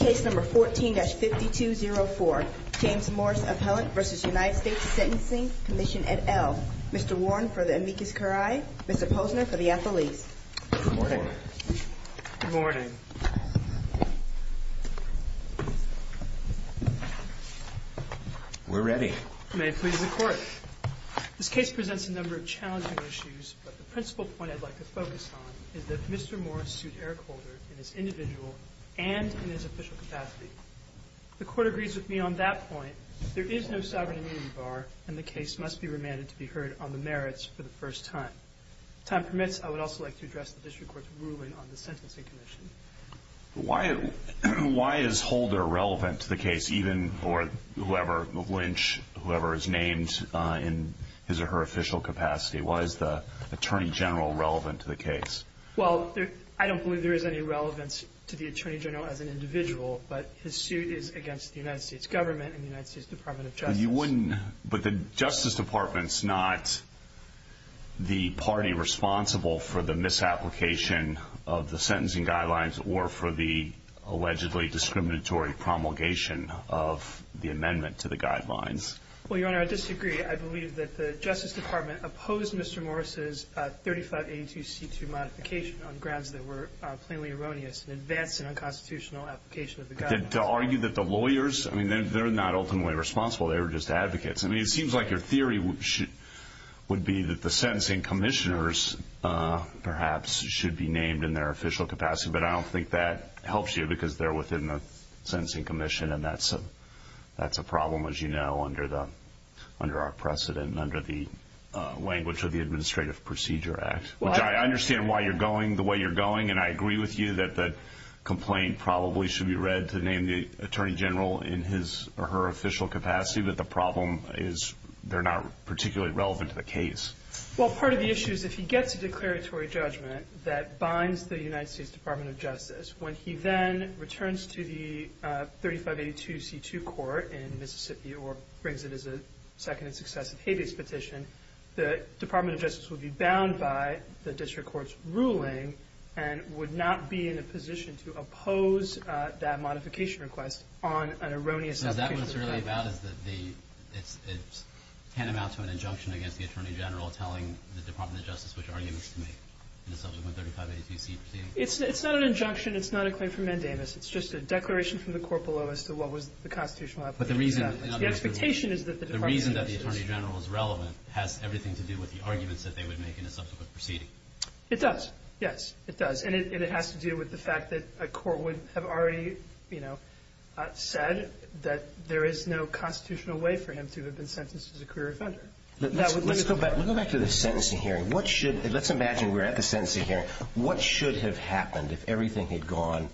Case No. 14-5204, James Morris Appellant v. United States Sentencing Commission et al. Mr. Warren for the amicus curiae, Mr. Posner for the affilis. Good morning. Good morning. We're ready. May it please the Court. This case presents a number of challenging issues, but the principal point I'd like to focus on is that Mr. Morris sued Eric Holder in his individual and in his official capacity. The Court agrees with me on that point. There is no sovereign immunity bar, and the case must be remanded to be heard on the merits for the first time. If time permits, I would also like to address the District Court's ruling on the sentencing commission. Why is Holder relevant to the case, even for whoever, Lynch, whoever is named in his or her official capacity? Why is the Attorney General relevant to the case? Well, I don't believe there is any relevance to the Attorney General as an individual, but his suit is against the United States government and the United States Department of Justice. But the Justice Department's not the party responsible for the misapplication of the sentencing guidelines or for the allegedly discriminatory promulgation of the amendment to the guidelines. Well, Your Honor, I disagree. I believe that the Justice Department opposed Mr. Morris' 3582C2 modification on grounds that were plainly erroneous in advance of an unconstitutional application of the guidelines. To argue that the lawyers, I mean, they're not ultimately responsible. They were just advocates. I mean, it seems like your theory would be that the sentencing commissioners perhaps should be named in their official capacity, but I don't think that helps you because they're within the sentencing commission, and that's a problem, as you know, under our precedent and under the language of the Administrative Procedure Act. I understand why you're going the way you're going, and I agree with you that the complaint probably should be read to name the Attorney General in his or her official capacity, but the problem is they're not particularly relevant to the case. Well, part of the issue is if he gets a declaratory judgment that binds the United States Department of Justice, when he then returns to the 3582C2 court in Mississippi or brings it as a second and successive habeas petition, the Department of Justice will be bound by the district court's ruling and would not be in a position to oppose that modification request on an erroneous application. So that's what it's really about is that it's tantamount to an injunction against the Attorney General telling the Department of Justice which arguments to make in the subsequent 3582C2? It's not an injunction. It's not a claim for mandamus. It's just a declaration from the court below as to what was the constitutional application. The expectation is that the Department of Justice... But the reason that the Attorney General is relevant has everything to do with the arguments that they would make in a subsequent proceeding. It does. Yes, it does. And it has to do with the fact that a court would have already, you know, said that there is no constitutional way for him to have been sentenced as a career offender. Let's go back to the sentencing hearing. Let's imagine we're at the sentencing hearing. What should have happened if everything had gone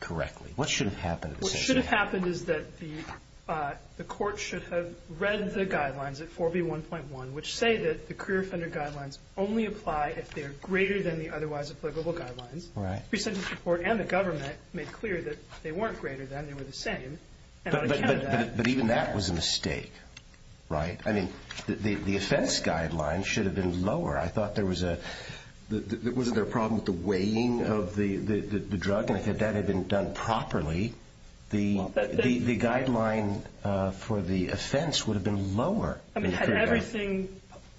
correctly? What should have happened at the sentencing hearing? What should have happened is that the court should have read the guidelines at 4B1.1, which say that the career offender guidelines only apply if they are greater than the otherwise applicable guidelines. Right. Pre-sentence report and the government made clear that they weren't greater than. They were the same. But even that was a mistake, right? I mean, the offense guidelines should have been lower. I thought there was a – wasn't there a problem with the weighing of the drug? And if that had been done properly, the guideline for the offense would have been lower. I mean, had everything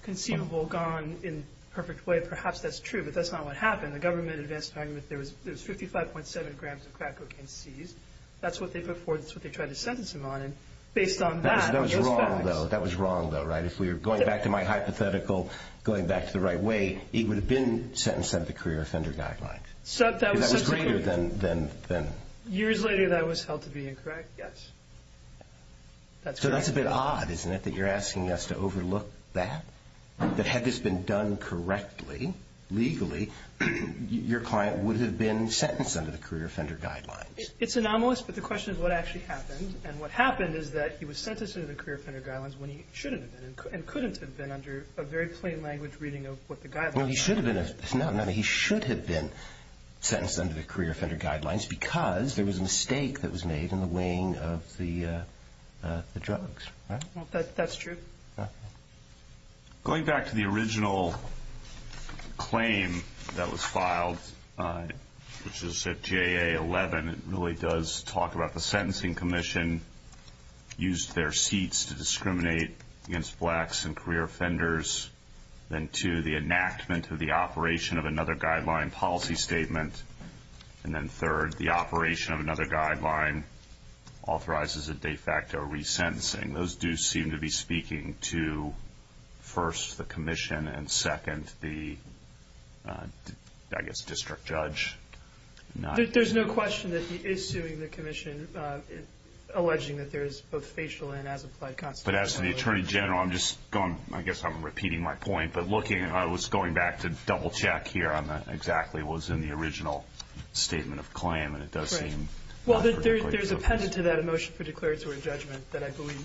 conceivable gone in a perfect way, perhaps that's true. But that's not what happened. The government advanced an argument that there was 55.7 grams of crack cocaine seized. That's what they put forth. That's what they tried to sentence him on. And based on that, I guess that works. That was wrong, though. That was wrong, though, right? If we were going back to my hypothetical, going back to the right way, he would have been sentenced under the career offender guidelines. That was greater than – Years later, that was held to be incorrect, yes. So that's a bit odd, isn't it, that you're asking us to overlook that? That had this been done correctly, legally, your client would have been sentenced under the career offender guidelines. It's anomalous, but the question is what actually happened. And what happened is that he was sentenced under the career offender guidelines when he shouldn't have been and couldn't have been under a very plain language reading of what the guidelines were. Well, he should have been. No, no, he should have been sentenced under the career offender guidelines because there was a mistake that was made in the weighing of the drugs. Well, that's true. Going back to the original claim that was filed, which is at JA11, it really does talk about the sentencing commission used their seats to discriminate against blacks and career offenders. Then two, the enactment of the operation of another guideline policy statement. And then third, the operation of another guideline authorizes a de facto resentencing. Those do seem to be speaking to, first, the commission, and second, the, I guess, district judge. There's no question that he is suing the commission, alleging that there is both facial and as-applied constitutional error. But as to the Attorney General, I'm just going, I guess I'm repeating my point, but looking, I was going back to double-check here on exactly what was in the original statement of claim, and it does seem. Right. Well, there's a pendant to that, a motion for declaratory judgment, that I believe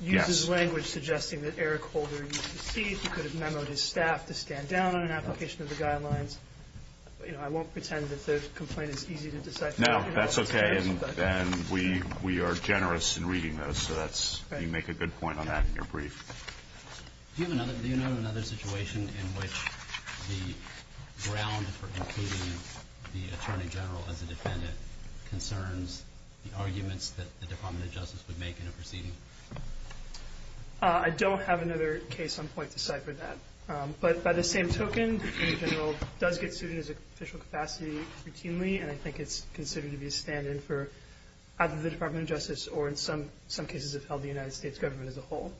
uses language suggesting that Eric Holder used his seat. He could have memoed his staff to stand down on an application of the guidelines. You know, I won't pretend that the complaint is easy to decipher. No, that's okay, and we are generous in reading those, so you make a good point on that in your brief. Do you know of another situation in which the ground for including the Attorney General as a defendant concerns the arguments that the Department of Justice would make in a proceeding? I don't have another case on point to cipher that. But by the same token, the Attorney General does get sued in his official capacity routinely, and I think it's considered to be a stand-in for either the Department of Justice or, in some cases, if held, the United States government as a whole.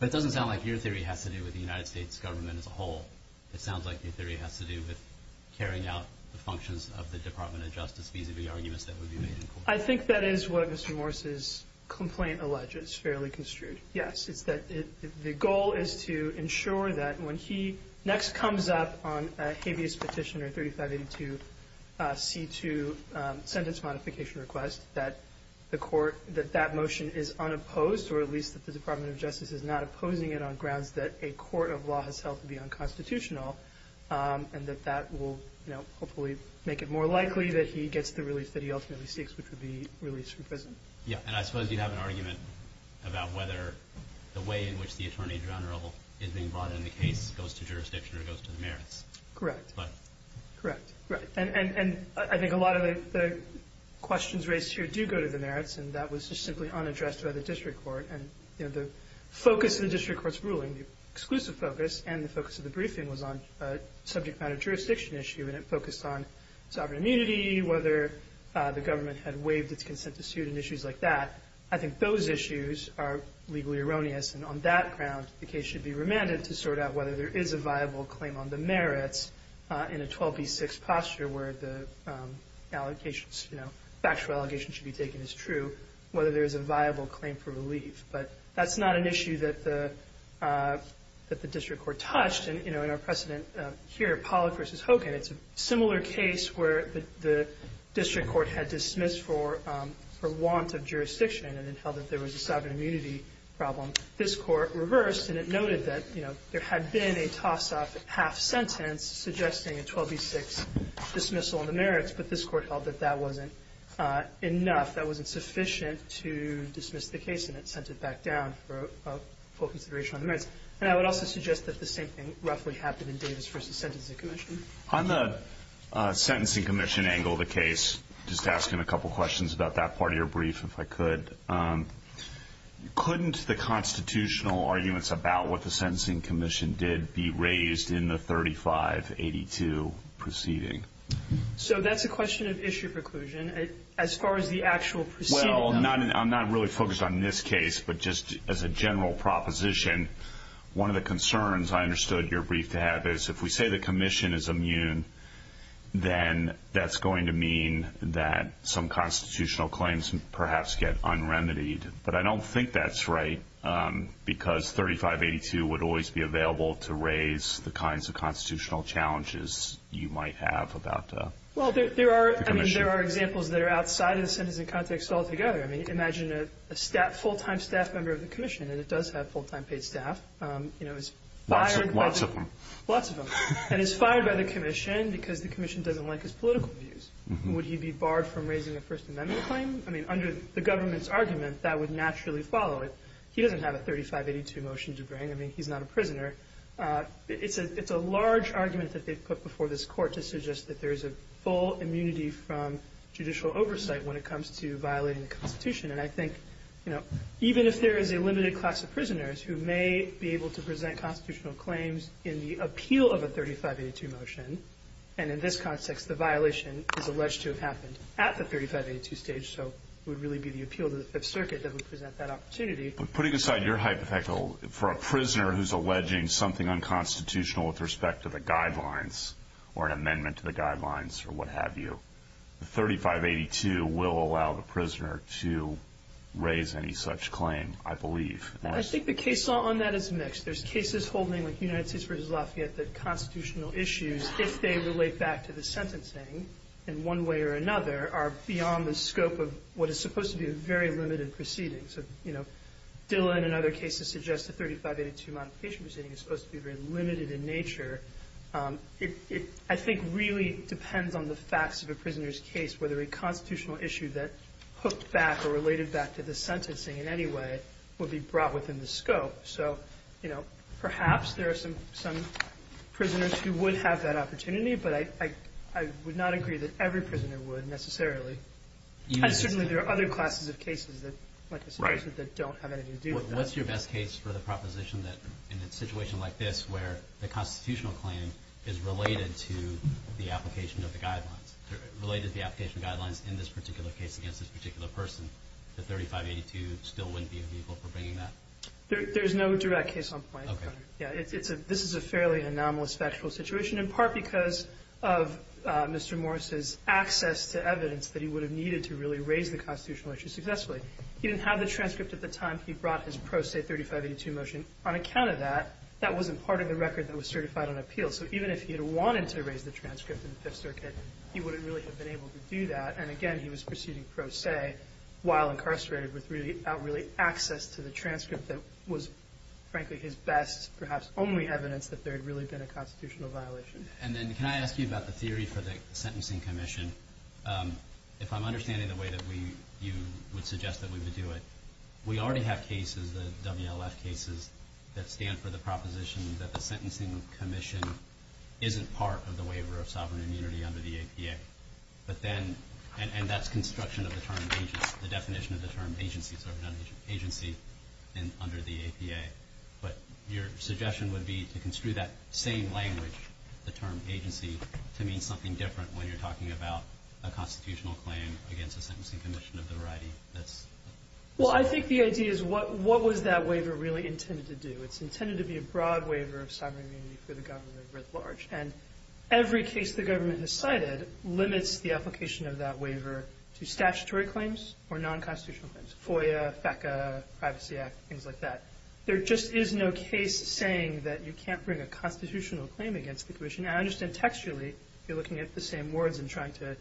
But it doesn't sound like your theory has to do with the United States government as a whole. It sounds like your theory has to do with carrying out the functions of the Department of Justice vis-à-vis arguments that would be made in court. I think that is what Mr. Morris's complaint alleges, fairly construed, yes. It's that the goal is to ensure that when he next comes up on a habeas petition or 3582C2 sentence modification request, that that motion is unopposed, or at least that the Department of Justice is not opposing it on grounds that a court of law has held to be unconstitutional, and that that will hopefully make it more likely that he gets the release And I suppose you have an argument about whether the way in which the Attorney General is being brought in the case goes to jurisdiction or goes to the merits. Correct. Correct. And I think a lot of the questions raised here do go to the merits, and that was just simply unaddressed by the district court. And the focus of the district court's ruling, the exclusive focus, and the focus of the briefing was on a subject matter jurisdiction issue, and it focused on sovereign immunity, whether the government had waived its consent to sue and issues like that. I think those issues are legally erroneous, and on that ground, the case should be remanded to sort out whether there is a viable claim on the merits in a 12B6 posture where the allegations, you know, factual allegations should be taken as true, whether there is a viable claim for relief. But that's not an issue that the district court touched. And, you know, in our precedent here, Pollack v. Hogan, it's a similar case where the district court had dismissed for want of jurisdiction and then held that there was a sovereign immunity problem. This Court reversed, and it noted that, you know, there had been a toss-off half-sentence suggesting a 12B6 dismissal on the merits, but this Court held that that wasn't enough, that wasn't sufficient to dismiss the case, and it sent it back down for full consideration on the merits. And I would also suggest that the same thing roughly happened in Davis v. Sentencing Commission. On the Sentencing Commission angle of the case, just asking a couple questions about that part of your brief, if I could. Couldn't the constitutional arguments about what the Sentencing Commission did be raised in the 3582 proceeding? So that's a question of issue preclusion. As far as the actual proceeding. Well, I'm not really focused on this case, but just as a general proposition, one of the concerns I understood your brief to have is if we say the commission is immune, then that's going to mean that some constitutional claims perhaps get unremitied. But I don't think that's right, because 3582 would always be available to raise the kinds of constitutional challenges you might have about the commission. Well, there are examples that are outside of the sentencing context altogether. I mean, under the government's argument, that would naturally follow it. He doesn't have a 3582 motion to bring. I mean, he's not a prisoner. It's a large argument that they've put before this court to suggest that there is a full immunity from judicial oversight when it comes to violating the Constitution. And I think, you know, even if there is a limited claim, It's not going to make a big difference. who may be able to present constitutional claims in the appeal of a 3582 motion. And in this context, the violation is alleged to have happened at the 3582 stage, so it would really be the appeal to the Fifth Circuit that would present that opportunity. But putting aside your hypothetical, for a prisoner who's alleging something unconstitutional with respect to the guidelines or an amendment to the guidelines or what have you, the 3582 will allow the prisoner to raise any such claim, I believe. I think the case law on that is mixed. There's cases holding, like United States v. Lafayette, that constitutional issues, if they relate back to the sentencing in one way or another, are beyond the scope of what is supposed to be a very limited proceeding. So, you know, Dillon and other cases suggest a 3582 modification proceeding is supposed to be very limited in nature. It, I think, really depends on the facts of a prisoner's case, whether a constitutional issue that hooked back or related back to the sentencing in any way would be brought within the scope. So, you know, perhaps there are some prisoners who would have that opportunity, but I would not agree that every prisoner would necessarily. And certainly there are other classes of cases that, like I said, don't have anything to do with that. What's your best case for the proposition that in a situation like this where the constitutional claim is related to the application of the guidelines, related to the application of the guidelines in this particular case against this particular person, the 3582 still wouldn't be a vehicle for bringing that? There's no direct case on point. Okay. Yeah, this is a fairly anomalous factual situation, in part because of Mr. Morris's access to evidence that he would have needed to really raise the constitutional issue successfully. He didn't have the transcript at the time he brought his pro se 3582 motion. On account of that, that wasn't part of the record that was certified on appeal. So even if he had wanted to raise the transcript in the Fifth Circuit, he wouldn't really have been able to do that. And, again, he was proceeding pro se while incarcerated with really out really access to the transcript that was, frankly, his best, perhaps only evidence that there had really been a constitutional violation. And then can I ask you about the theory for the sentencing commission? If I'm understanding the way that you would suggest that we would do it, we already have cases, the WLF cases, that stand for the proposition that the sentencing commission isn't part of the waiver of sovereign immunity under the APA. But then, and that's construction of the term agency, the definition of the term agency under the APA. But your suggestion would be to construe that same language, the term agency, to mean something different when you're talking about a constitutional claim against a sentencing commission of the variety that's... Well, I think the idea is what was that waiver really intended to do? It's intended to be a broad waiver of sovereign immunity for the government writ large. And every case the government has cited limits the application of that waiver to statutory claims or non-constitutional claims, FOIA, FECA, Privacy Act, things like that. There just is no case saying that you can't bring a constitutional claim against the commission. And I understand textually you're looking at the same words and trying to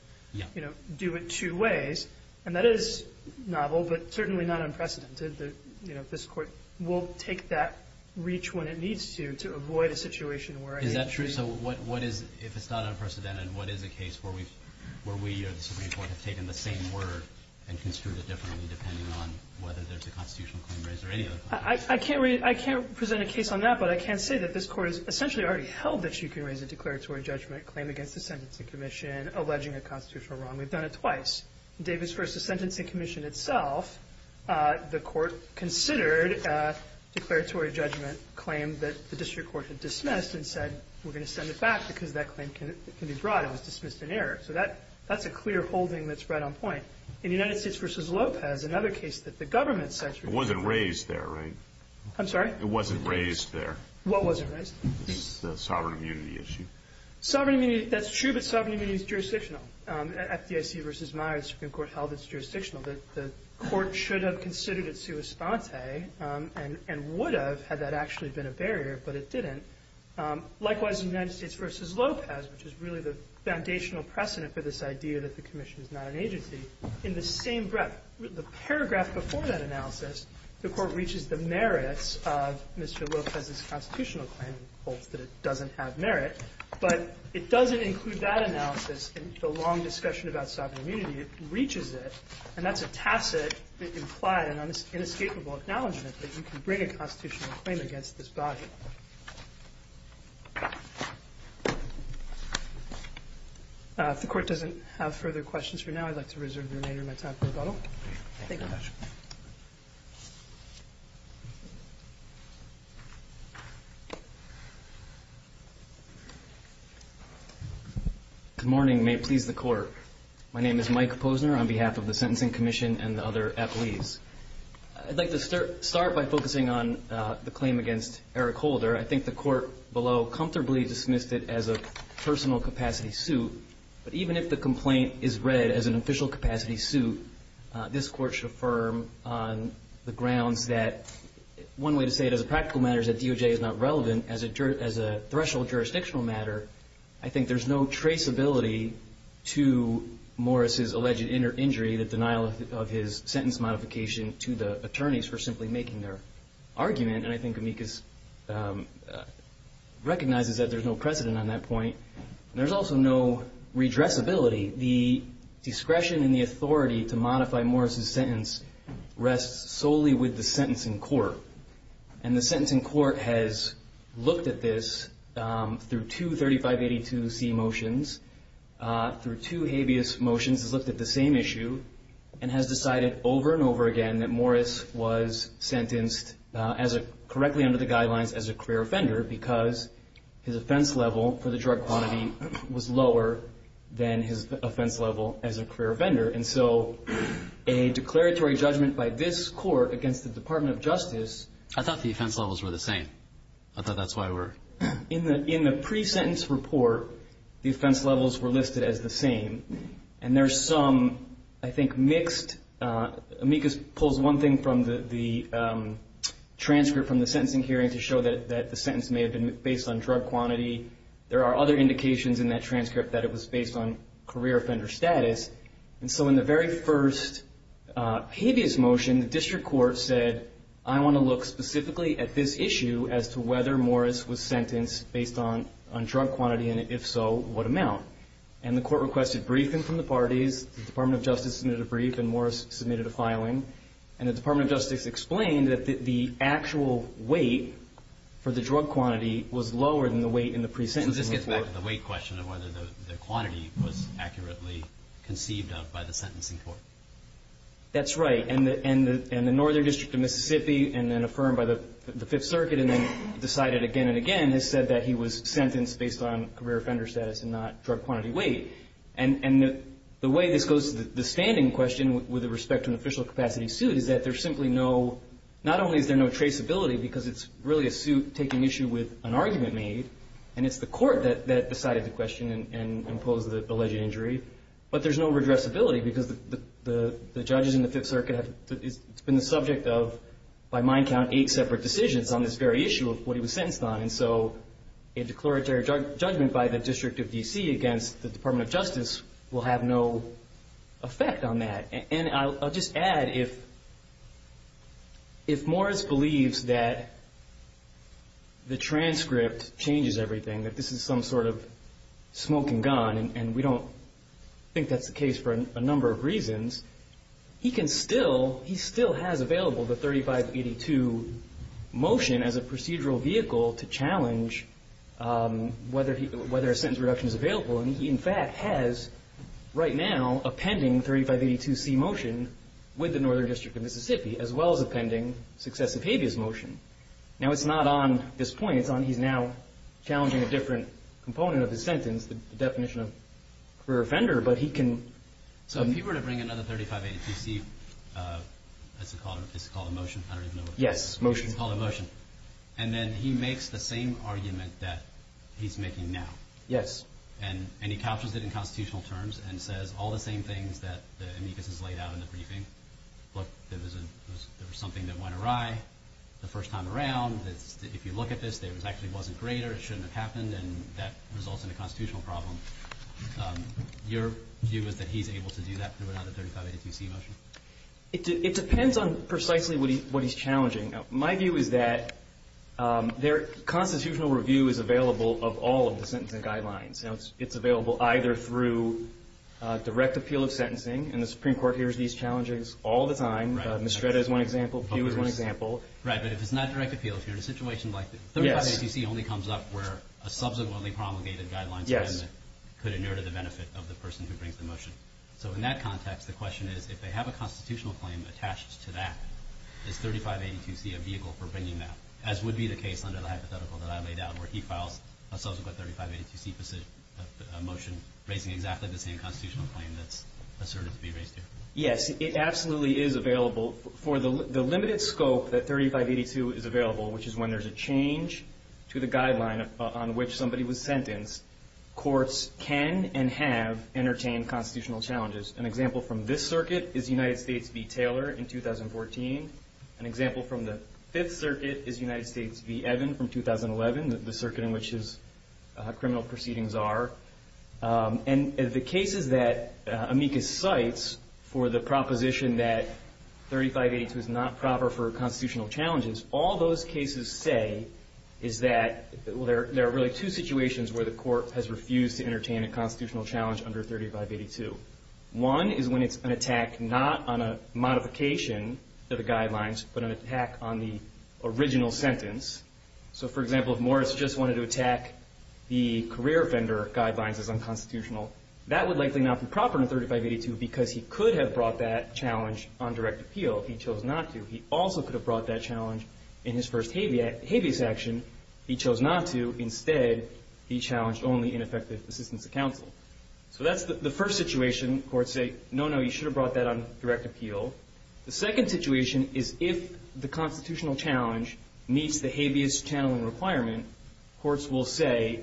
do it two ways. And that is novel, but certainly not unprecedented. This Court will take that reach when it needs to to avoid a situation where... Is that true? So what is, if it's not unprecedented, what is a case where we or the Supreme Court have taken the same word and construed it differently depending on whether there's a constitutional claim raised or any other claim? I can't present a case on that, but I can say that this Court has essentially already held that you can raise a declaratory judgment claim against a sentencing commission alleging a constitutional wrong. We've done it twice. In Davis v. Sentencing Commission itself, the Court considered a declaratory judgment claim that the district court had dismissed and said we're going to send it back because that claim can be brought. It was dismissed in error. So that's a clear holding that's right on point. In United States v. Lopez, another case that the government cited... It wasn't raised there, right? I'm sorry? It wasn't raised there. What wasn't raised? The sovereign immunity issue. Sovereign immunity. That's true, but sovereign immunity is jurisdictional. At FDIC v. Myers, the Supreme Court held it's jurisdictional. The Court should have considered it sua sponte and would have had that actually been a barrier, but it didn't. Likewise, in United States v. Lopez, which is really the foundational precedent for this idea that the commission is not an agency, in the same breath, the paragraph before that analysis, the Court reaches the merits of Mr. Lopez's constitutional claim, holds that it doesn't have merit, but it doesn't include that analysis in the long discussion about sovereign immunity. It reaches it, and that's a tacit, implied and inescapable acknowledgement that you can bring a constitutional claim against this body. If the Court doesn't have further questions for now, I'd like to reserve the remainder of my time for rebuttal. Thank you, Judge. Good morning. May it please the Court. My name is Mike Posner on behalf of the Sentencing Commission and the other appellees. I'd like to start by focusing on the claim against Eric Holder. I think the Court below comfortably dismissed it as a personal capacity suit, but even if the complaint is read as an official capacity suit, this Court should affirm on the grounds that one way to say it as a practical matter is that DOJ is not relevant as a threshold jurisdictional matter. I think there's no traceability to Morris's alleged injury, the denial of his sentence modification to the attorneys for simply making their argument. And I think Amicus recognizes that there's no precedent on that point. There's also no redressability. The discretion and the authority to modify Morris's sentence rests solely with the sentencing court. And the sentencing court has looked at this through two 3582C motions, through two habeas motions, has looked at the same issue and has decided over and over again that Morris was sentenced correctly under the guidelines as a clear offender because his offense level as a clear offender. And so a declaratory judgment by this Court against the Department of Justice I thought the offense levels were the same. I thought that's why we're In the pre-sentence report, the offense levels were listed as the same. And there's some, I think, mixed, Amicus pulls one thing from the transcript from the sentencing hearing to show that the sentence may have been based on drug quantity. There are other indications in that transcript that it was based on career offender status. And so in the very first habeas motion, the district court said, I want to look specifically at this issue as to whether Morris was sentenced based on drug quantity and if so, what amount. And the court requested briefing from the parties. The Department of Justice submitted a brief and Morris submitted a filing. And the Department of Justice explained that the actual weight for the drug So this gets back to the weight question of whether the quantity was accurately conceived of by the sentencing court. That's right. And the Northern District of Mississippi, and then affirmed by the Fifth Circuit and then decided again and again, has said that he was sentenced based on career offender status and not drug quantity weight. And the way this goes to the standing question with respect to an official capacity suit is that there's simply no, not only is there no traceability because it's really a suit taking issue with an argument made and it's the court that decided the question and imposed the alleged injury, but there's no redressability because the judges in the Fifth Circuit have, it's been the subject of, by my count, eight separate decisions on this very issue of what he was sentenced on. And so a declaratory judgment by the District of D.C. against the Department of Justice will have no effect on that. And I'll just add if, if Morris believes that the transcript changes everything, that this is some sort of smoke and gun, and we don't think that's the case for a number of reasons, he can still, he still has available the 3582 motion as a procedural vehicle to challenge whether a sentence reduction is available. And he, in fact, has right now a pending 3582C motion with the Northern District of Mississippi as well as a pending successive habeas motion. Now it's not on this point, it's on he's now challenging a different component of his sentence, the definition of career offender, but he can. So if he were to bring another 3582C, what's it called, it's called a motion, I don't even know what it's called. Yes, motion. It's called a motion. And then he makes the same argument that he's making now. Yes. And he captures it in constitutional terms and says all the same things that the amicus has laid out in the briefing. Look, there was something that went awry the first time around. If you look at this, it actually wasn't greater, it shouldn't have happened, and that results in a constitutional problem. Your view is that he's able to do that without a 3582C motion? It depends on precisely what he's challenging. My view is that their constitutional review is available of all of the sentencing guidelines. It's available either through direct appeal of sentencing, and the Supreme Court hears these challenges all the time. Mistretta is one example, Pew is one example. Right, but if it's not direct appeal, if you're in a situation like this, 3582C only comes up where a subsequently promulgated guidelines amendment could inure to the benefit of the person who brings the motion. So in that context, the question is if they have a constitutional claim attached to that, is 3582C a vehicle for bringing that, as would be the case under the hypothetical that I laid out where he files a subsequent 3582C motion raising exactly the same constitutional claim that's asserted to be raised here. Yes, it absolutely is available. For the limited scope that 3582 is available, which is when there's a change to the guideline on which somebody was sentenced, courts can and have entertained constitutional challenges. An example from this circuit is United States v. Taylor in 2014. An example from the Fifth Circuit is United States v. Evan from 2011. The circuit in which his criminal proceedings are. And the cases that amicus cites for the proposition that 3582 is not proper for constitutional challenges, all those cases say is that there are really two situations where the court has refused to entertain a constitutional challenge under 3582. One is when it's an attack not on a modification of the guidelines, but an attack on the original sentence. So, for example, if Morris just wanted to attack the career offender guidelines as unconstitutional, that would likely not be proper under 3582 because he could have brought that challenge on direct appeal. He chose not to. He also could have brought that challenge in his first habeas action. He chose not to. Instead, he challenged only ineffective assistance of counsel. So that's the first situation. Courts say, no, no, you should have brought that on direct appeal. The second situation is if the constitutional challenge meets the habeas channeling requirement, courts will say,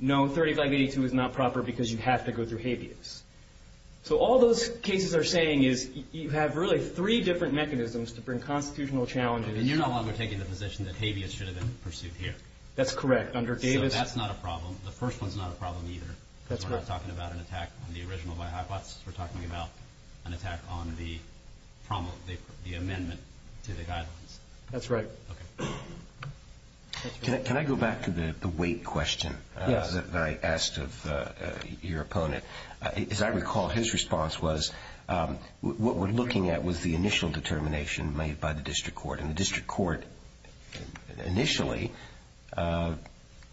no, 3582 is not proper because you have to go through habeas. So all those cases are saying is you have really three different mechanisms to bring constitutional challenges. And you're no longer taking the position that habeas should have been pursued here. That's correct. Under Davis. So that's not a problem. The first one's not a problem either. That's correct. Because we're not talking about an attack on the original by-hypothesis. We're talking about an attack on the amendment to the guidelines. That's right. Okay. Can I go back to the weight question that I asked of your opponent? As I recall, his response was what we're looking at was the initial determination made by the district court. And the district court initially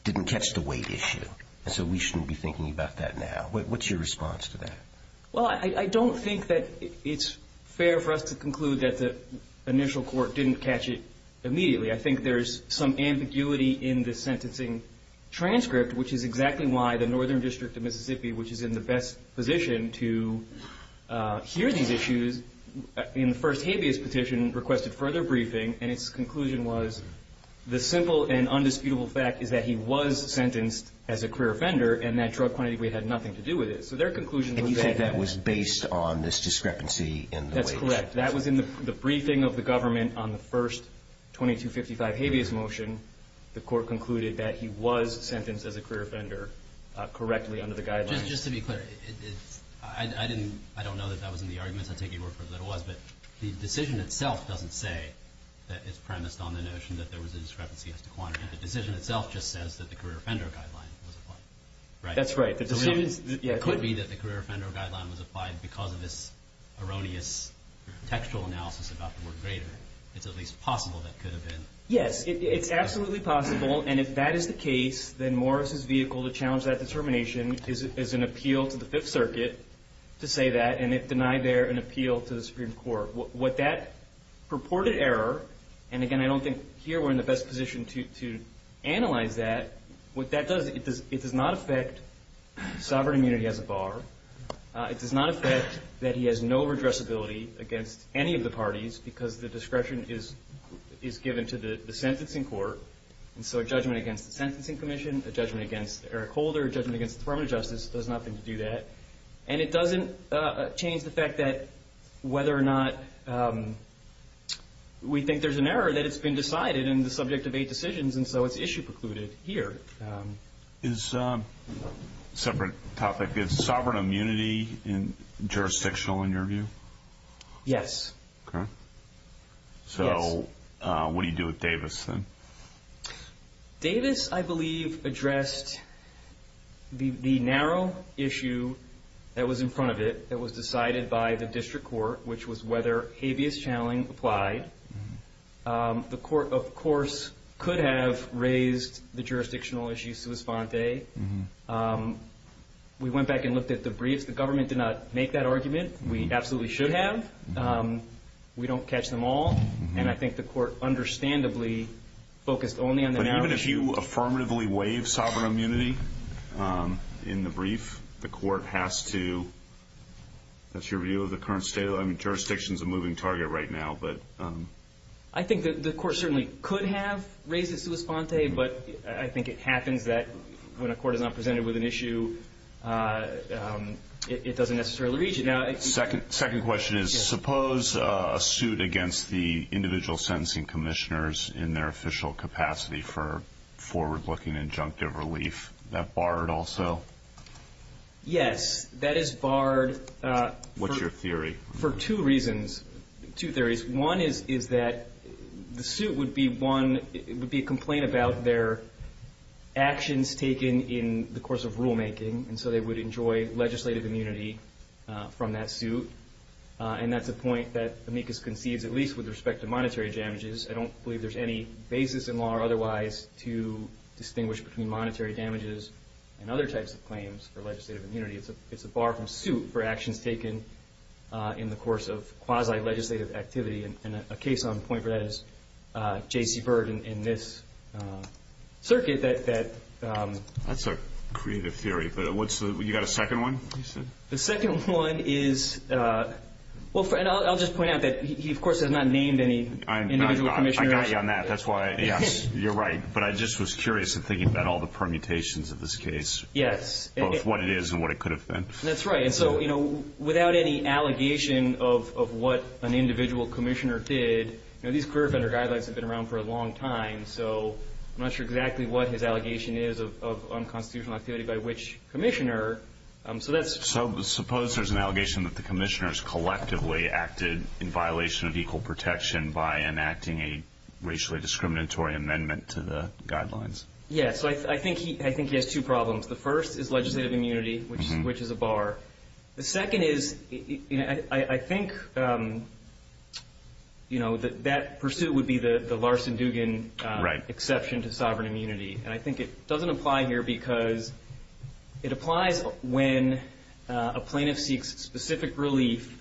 didn't catch the weight issue. So we shouldn't be thinking about that now. What's your response to that? Well, I don't think that it's fair for us to conclude that the initial court didn't catch it immediately. I think there's some ambiguity in the sentencing transcript, which is exactly why the Northern District of Mississippi, which is in the best position to hear these issues, in the first habeas petition requested further briefing, and its conclusion was the simple and undisputable fact is that he was sentenced as a career offender and that drug quantity had nothing to do with it. And you said that was based on this discrepancy in the weight? That's correct. That was in the briefing of the government on the first 2255 habeas motion. The court concluded that he was sentenced as a career offender correctly under the guidelines. Just to be clear, I don't know that that was in the arguments. I'll take your word for it that it was. But the decision itself doesn't say that it's premised on the notion that there was a discrepancy as to quantity. The decision itself just says that the career offender guideline was applied. That's right. It could be that the career offender guideline was applied because of this erroneous textual analysis about the word greater. It's at least possible that could have been. Yes, it's absolutely possible. And if that is the case, then Morris' vehicle to challenge that determination is an appeal to the Fifth Circuit to say that, and it denied there an appeal to the Supreme Court. What that purported error, and again, I don't think here we're in the best position to analyze that, what that does, it does not affect sovereign immunity as a bar. It does not affect that he has no redressability against any of the parties because the discretion is given to the sentencing court. And so a judgment against the Sentencing Commission, a judgment against Eric Holder, a judgment against the Department of Justice does nothing to do that. And it doesn't change the fact that whether or not we think there's an error that it's been decided in the subject of eight decisions, and so it's issue precluded here. Is a separate topic, is sovereign immunity jurisdictional in your view? Yes. So what do you do with Davis then? Davis, I believe, addressed the narrow issue that was in front of it that was decided by the district court, which was whether habeas channeling applied. The court, of course, could have raised the jurisdictional issue sua sponte. We went back and looked at the briefs. The government did not make that argument. We absolutely should have. We don't catch them all. And I think the court understandably focused only on the narrow issue. Do you affirmatively waive sovereign immunity in the brief? The court has to. That's your view of the current state? I mean, jurisdiction is a moving target right now. I think the court certainly could have raised it sua sponte, but I think it happens that when a court is not presented with an issue, it doesn't necessarily reach it. Second question is suppose a suit against the individual sentencing commissioners in their official capacity for forward-looking injunctive relief, that barred also? Yes, that is barred. What's your theory? For two reasons, two theories. One is that the suit would be one, it would be a complaint about their actions taken in the course of rulemaking, and so they would enjoy legislative immunity from that suit. And that's a point that amicus conceives at least with respect to monetary damages. I don't believe there's any basis in law or otherwise to distinguish between monetary damages and other types of claims for legislative immunity. It's a bar from suit for actions taken in the course of quasi-legislative activity, and a case on point for that is J.C. Byrd in this circuit. That's a creative theory, but you've got a second one? The second one is, and I'll just point out that he, of course, has not named any individual commissioner. I got you on that. You're right, but I just was curious in thinking about all the permutations of this case, both what it is and what it could have been. That's right, and so without any allegation of what an individual commissioner did, these career offender guidelines have been around for a long time, so I'm not sure exactly what his allegation is of unconstitutional activity by which commissioner. So suppose there's an allegation that the commissioners collectively acted in violation of equal protection by enacting a racially discriminatory amendment to the guidelines. Yes, I think he has two problems. The first is legislative immunity, which is a bar. The second is I think that pursuit would be the Larson-Dugan exception to sovereign immunity, and I think it doesn't apply here because it applies when a plaintiff seeks specific relief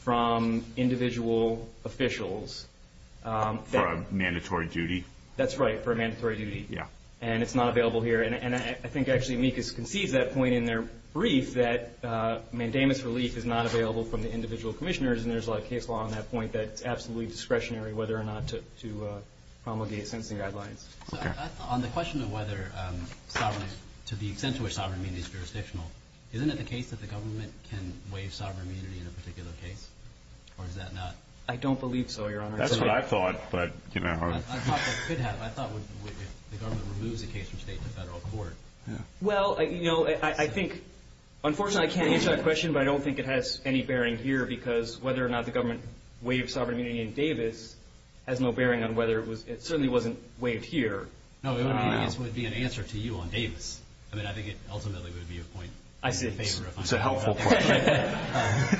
from individual officials. For a mandatory duty? That's right, for a mandatory duty, and it's not available here, and I think actually amicus concedes that point in their brief, that mandamus relief is not available from the individual commissioners, and there's a lot of case law on that point that it's absolutely discretionary whether or not to promulgate sentencing guidelines. On the question of whether to the extent to which sovereign immunity is jurisdictional, isn't it the case that the government can waive sovereign immunity in a particular case, or is that not? I don't believe so, Your Honor. That's what I thought, but you know. I thought the government removes a case from state to federal court. Well, you know, I think unfortunately I can't answer that question, but I don't think it has any bearing here because whether or not the government waived sovereign immunity in Davis has no bearing on whether it was. It certainly wasn't waived here. No, it would be an answer to you on Davis. I mean, I think it ultimately would be a point. I see. It's a helpful question.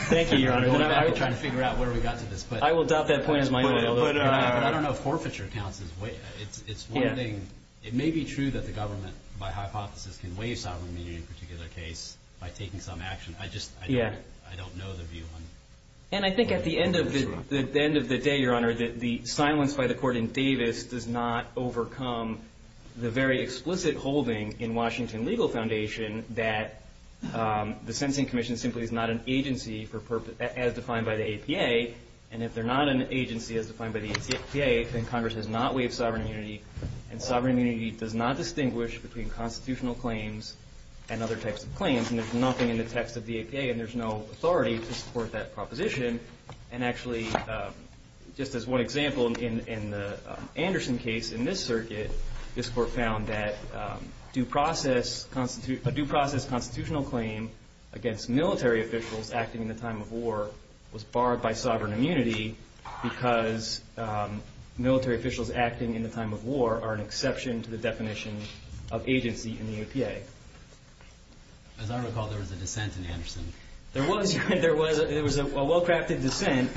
Thank you, Your Honor. I'm going back and trying to figure out where we got to this point. I will doubt that point is my motive. But I don't know if forfeiture counts as waiving. It's one thing. It may be true that the government, by hypothesis, can waive sovereign immunity in a particular case by taking some action. I just don't know the view on it. And I think at the end of the day, Your Honor, the silence by the court in Davis does not overcome the very explicit holding in Washington Legal Foundation that the Sentencing Commission simply is not an agency as defined by the APA, and if they're not an agency as defined by the APA, then Congress has not waived sovereign immunity, and sovereign immunity does not distinguish between constitutional claims and other types of claims. And there's nothing in the text of the APA, and there's no authority to support that proposition. And actually, just as one example, in the Anderson case in this circuit, this court found that a due process constitutional claim against military officials acting in the time of war was barred by sovereign immunity because military officials acting in the time of war are an exception to the definition of agency in the APA. As I recall, there was a dissent in Anderson. There was. There was. It was a well-crafted dissent,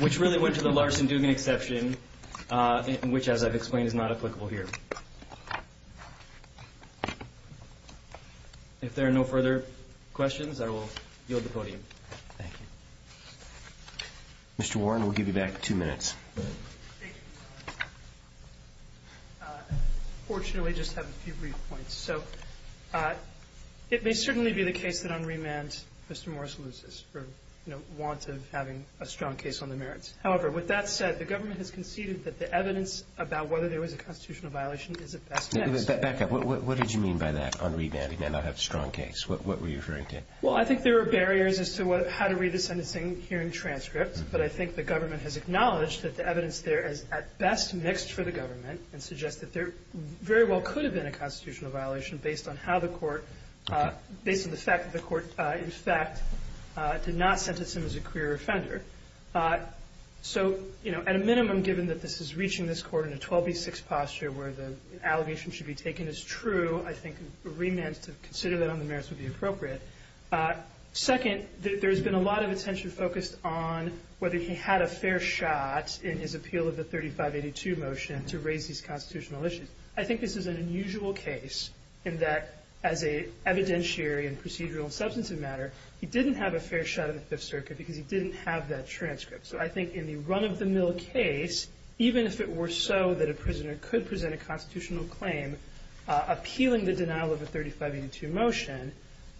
which really went to the Larson-Dugan exception, which, as I've explained, is not applicable here. If there are no further questions, I will yield the podium. Thank you. Mr. Warren, we'll give you back two minutes. Thank you. Unfortunately, I just have a few brief points. So it may certainly be the case that on remand Mr. Morris loses for, you know, want of having a strong case on the merits. However, with that said, the government has conceded that the evidence about whether there was a constitutional violation is at best mixed. Back up. What did you mean by that on remand? He may not have a strong case. What were you referring to? Well, I think there are barriers as to how to read a sentencing hearing transcript, but I think the government has acknowledged that the evidence there is at best mixed for the government and suggests that there very well could have been a constitutional violation based on how the court, based on the fact that the court, in fact, did not sentence him as a queer offender. So, you know, at a minimum, given that this is reaching this Court in a 12B6 posture where the allegation should be taken as true, I think a remand to consider that on the merits would be appropriate. Second, there has been a lot of attention focused on whether he had a fair shot in his appeal of the 3582 motion to raise these constitutional issues. I think this is an unusual case in that, as an evidentiary in procedural and substantive matter, he didn't have a fair shot in the Fifth Circuit because he didn't have that transcript. So I think in the run-of-the-mill case, even if it were so that a prisoner could present a constitutional claim appealing the denial of the 3582 motion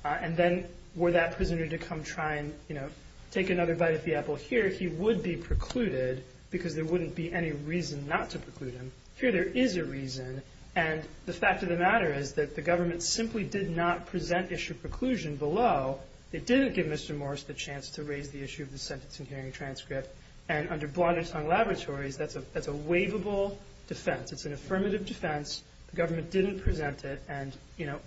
and then were that prisoner to come try and, you know, take another bite of the apple here, he would be precluded because there wouldn't be any reason not to preclude him. Here there is a reason, and the fact of the matter is that the government simply did not present issue preclusion below. They didn't give Mr. Morris the chance to raise the issue of the sentencing hearing transcript. And under Blodnetong Laboratories, that's a waivable defense. It's an affirmative defense. The government didn't present it. And, you know,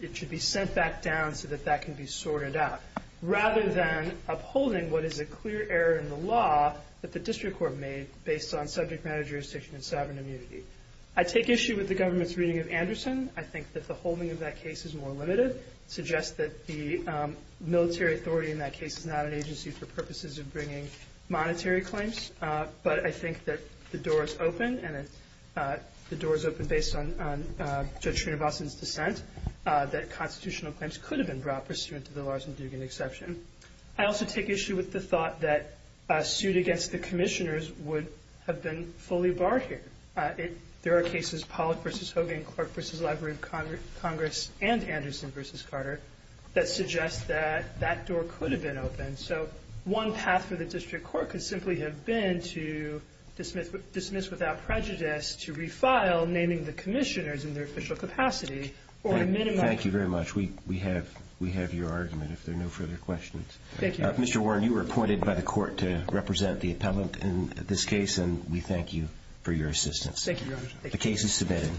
it should be sent back down so that that can be sorted out rather than upholding what is a clear error in the law that the district court made based on subject matter jurisdiction and sovereign immunity. I take issue with the government's reading of Anderson. I think that the holding of that case is more limited. It suggests that the military authority in that case is not an agency for purposes of bringing monetary claims. But I think that the door is open, and the door is open based on Judge Srinivasan's dissent, that constitutional claims could have been brought pursuant to the Larsen-Dugan exception. I also take issue with the thought that a suit against the commissioners would have been fully barred here. There are cases, Pollack v. Hogan, Clark v. Library of Congress, and Anderson v. Carter that suggest that that door could have been open. So one path for the district court could simply have been to dismiss without prejudice to refile naming the commissioners in their official capacity or a minimum. Thank you very much. We have your argument, if there are no further questions. Thank you. Mr. Warren, you were appointed by the court to represent the appellant in this case, and we thank you for your assistance. Thank you very much. The case is submitted.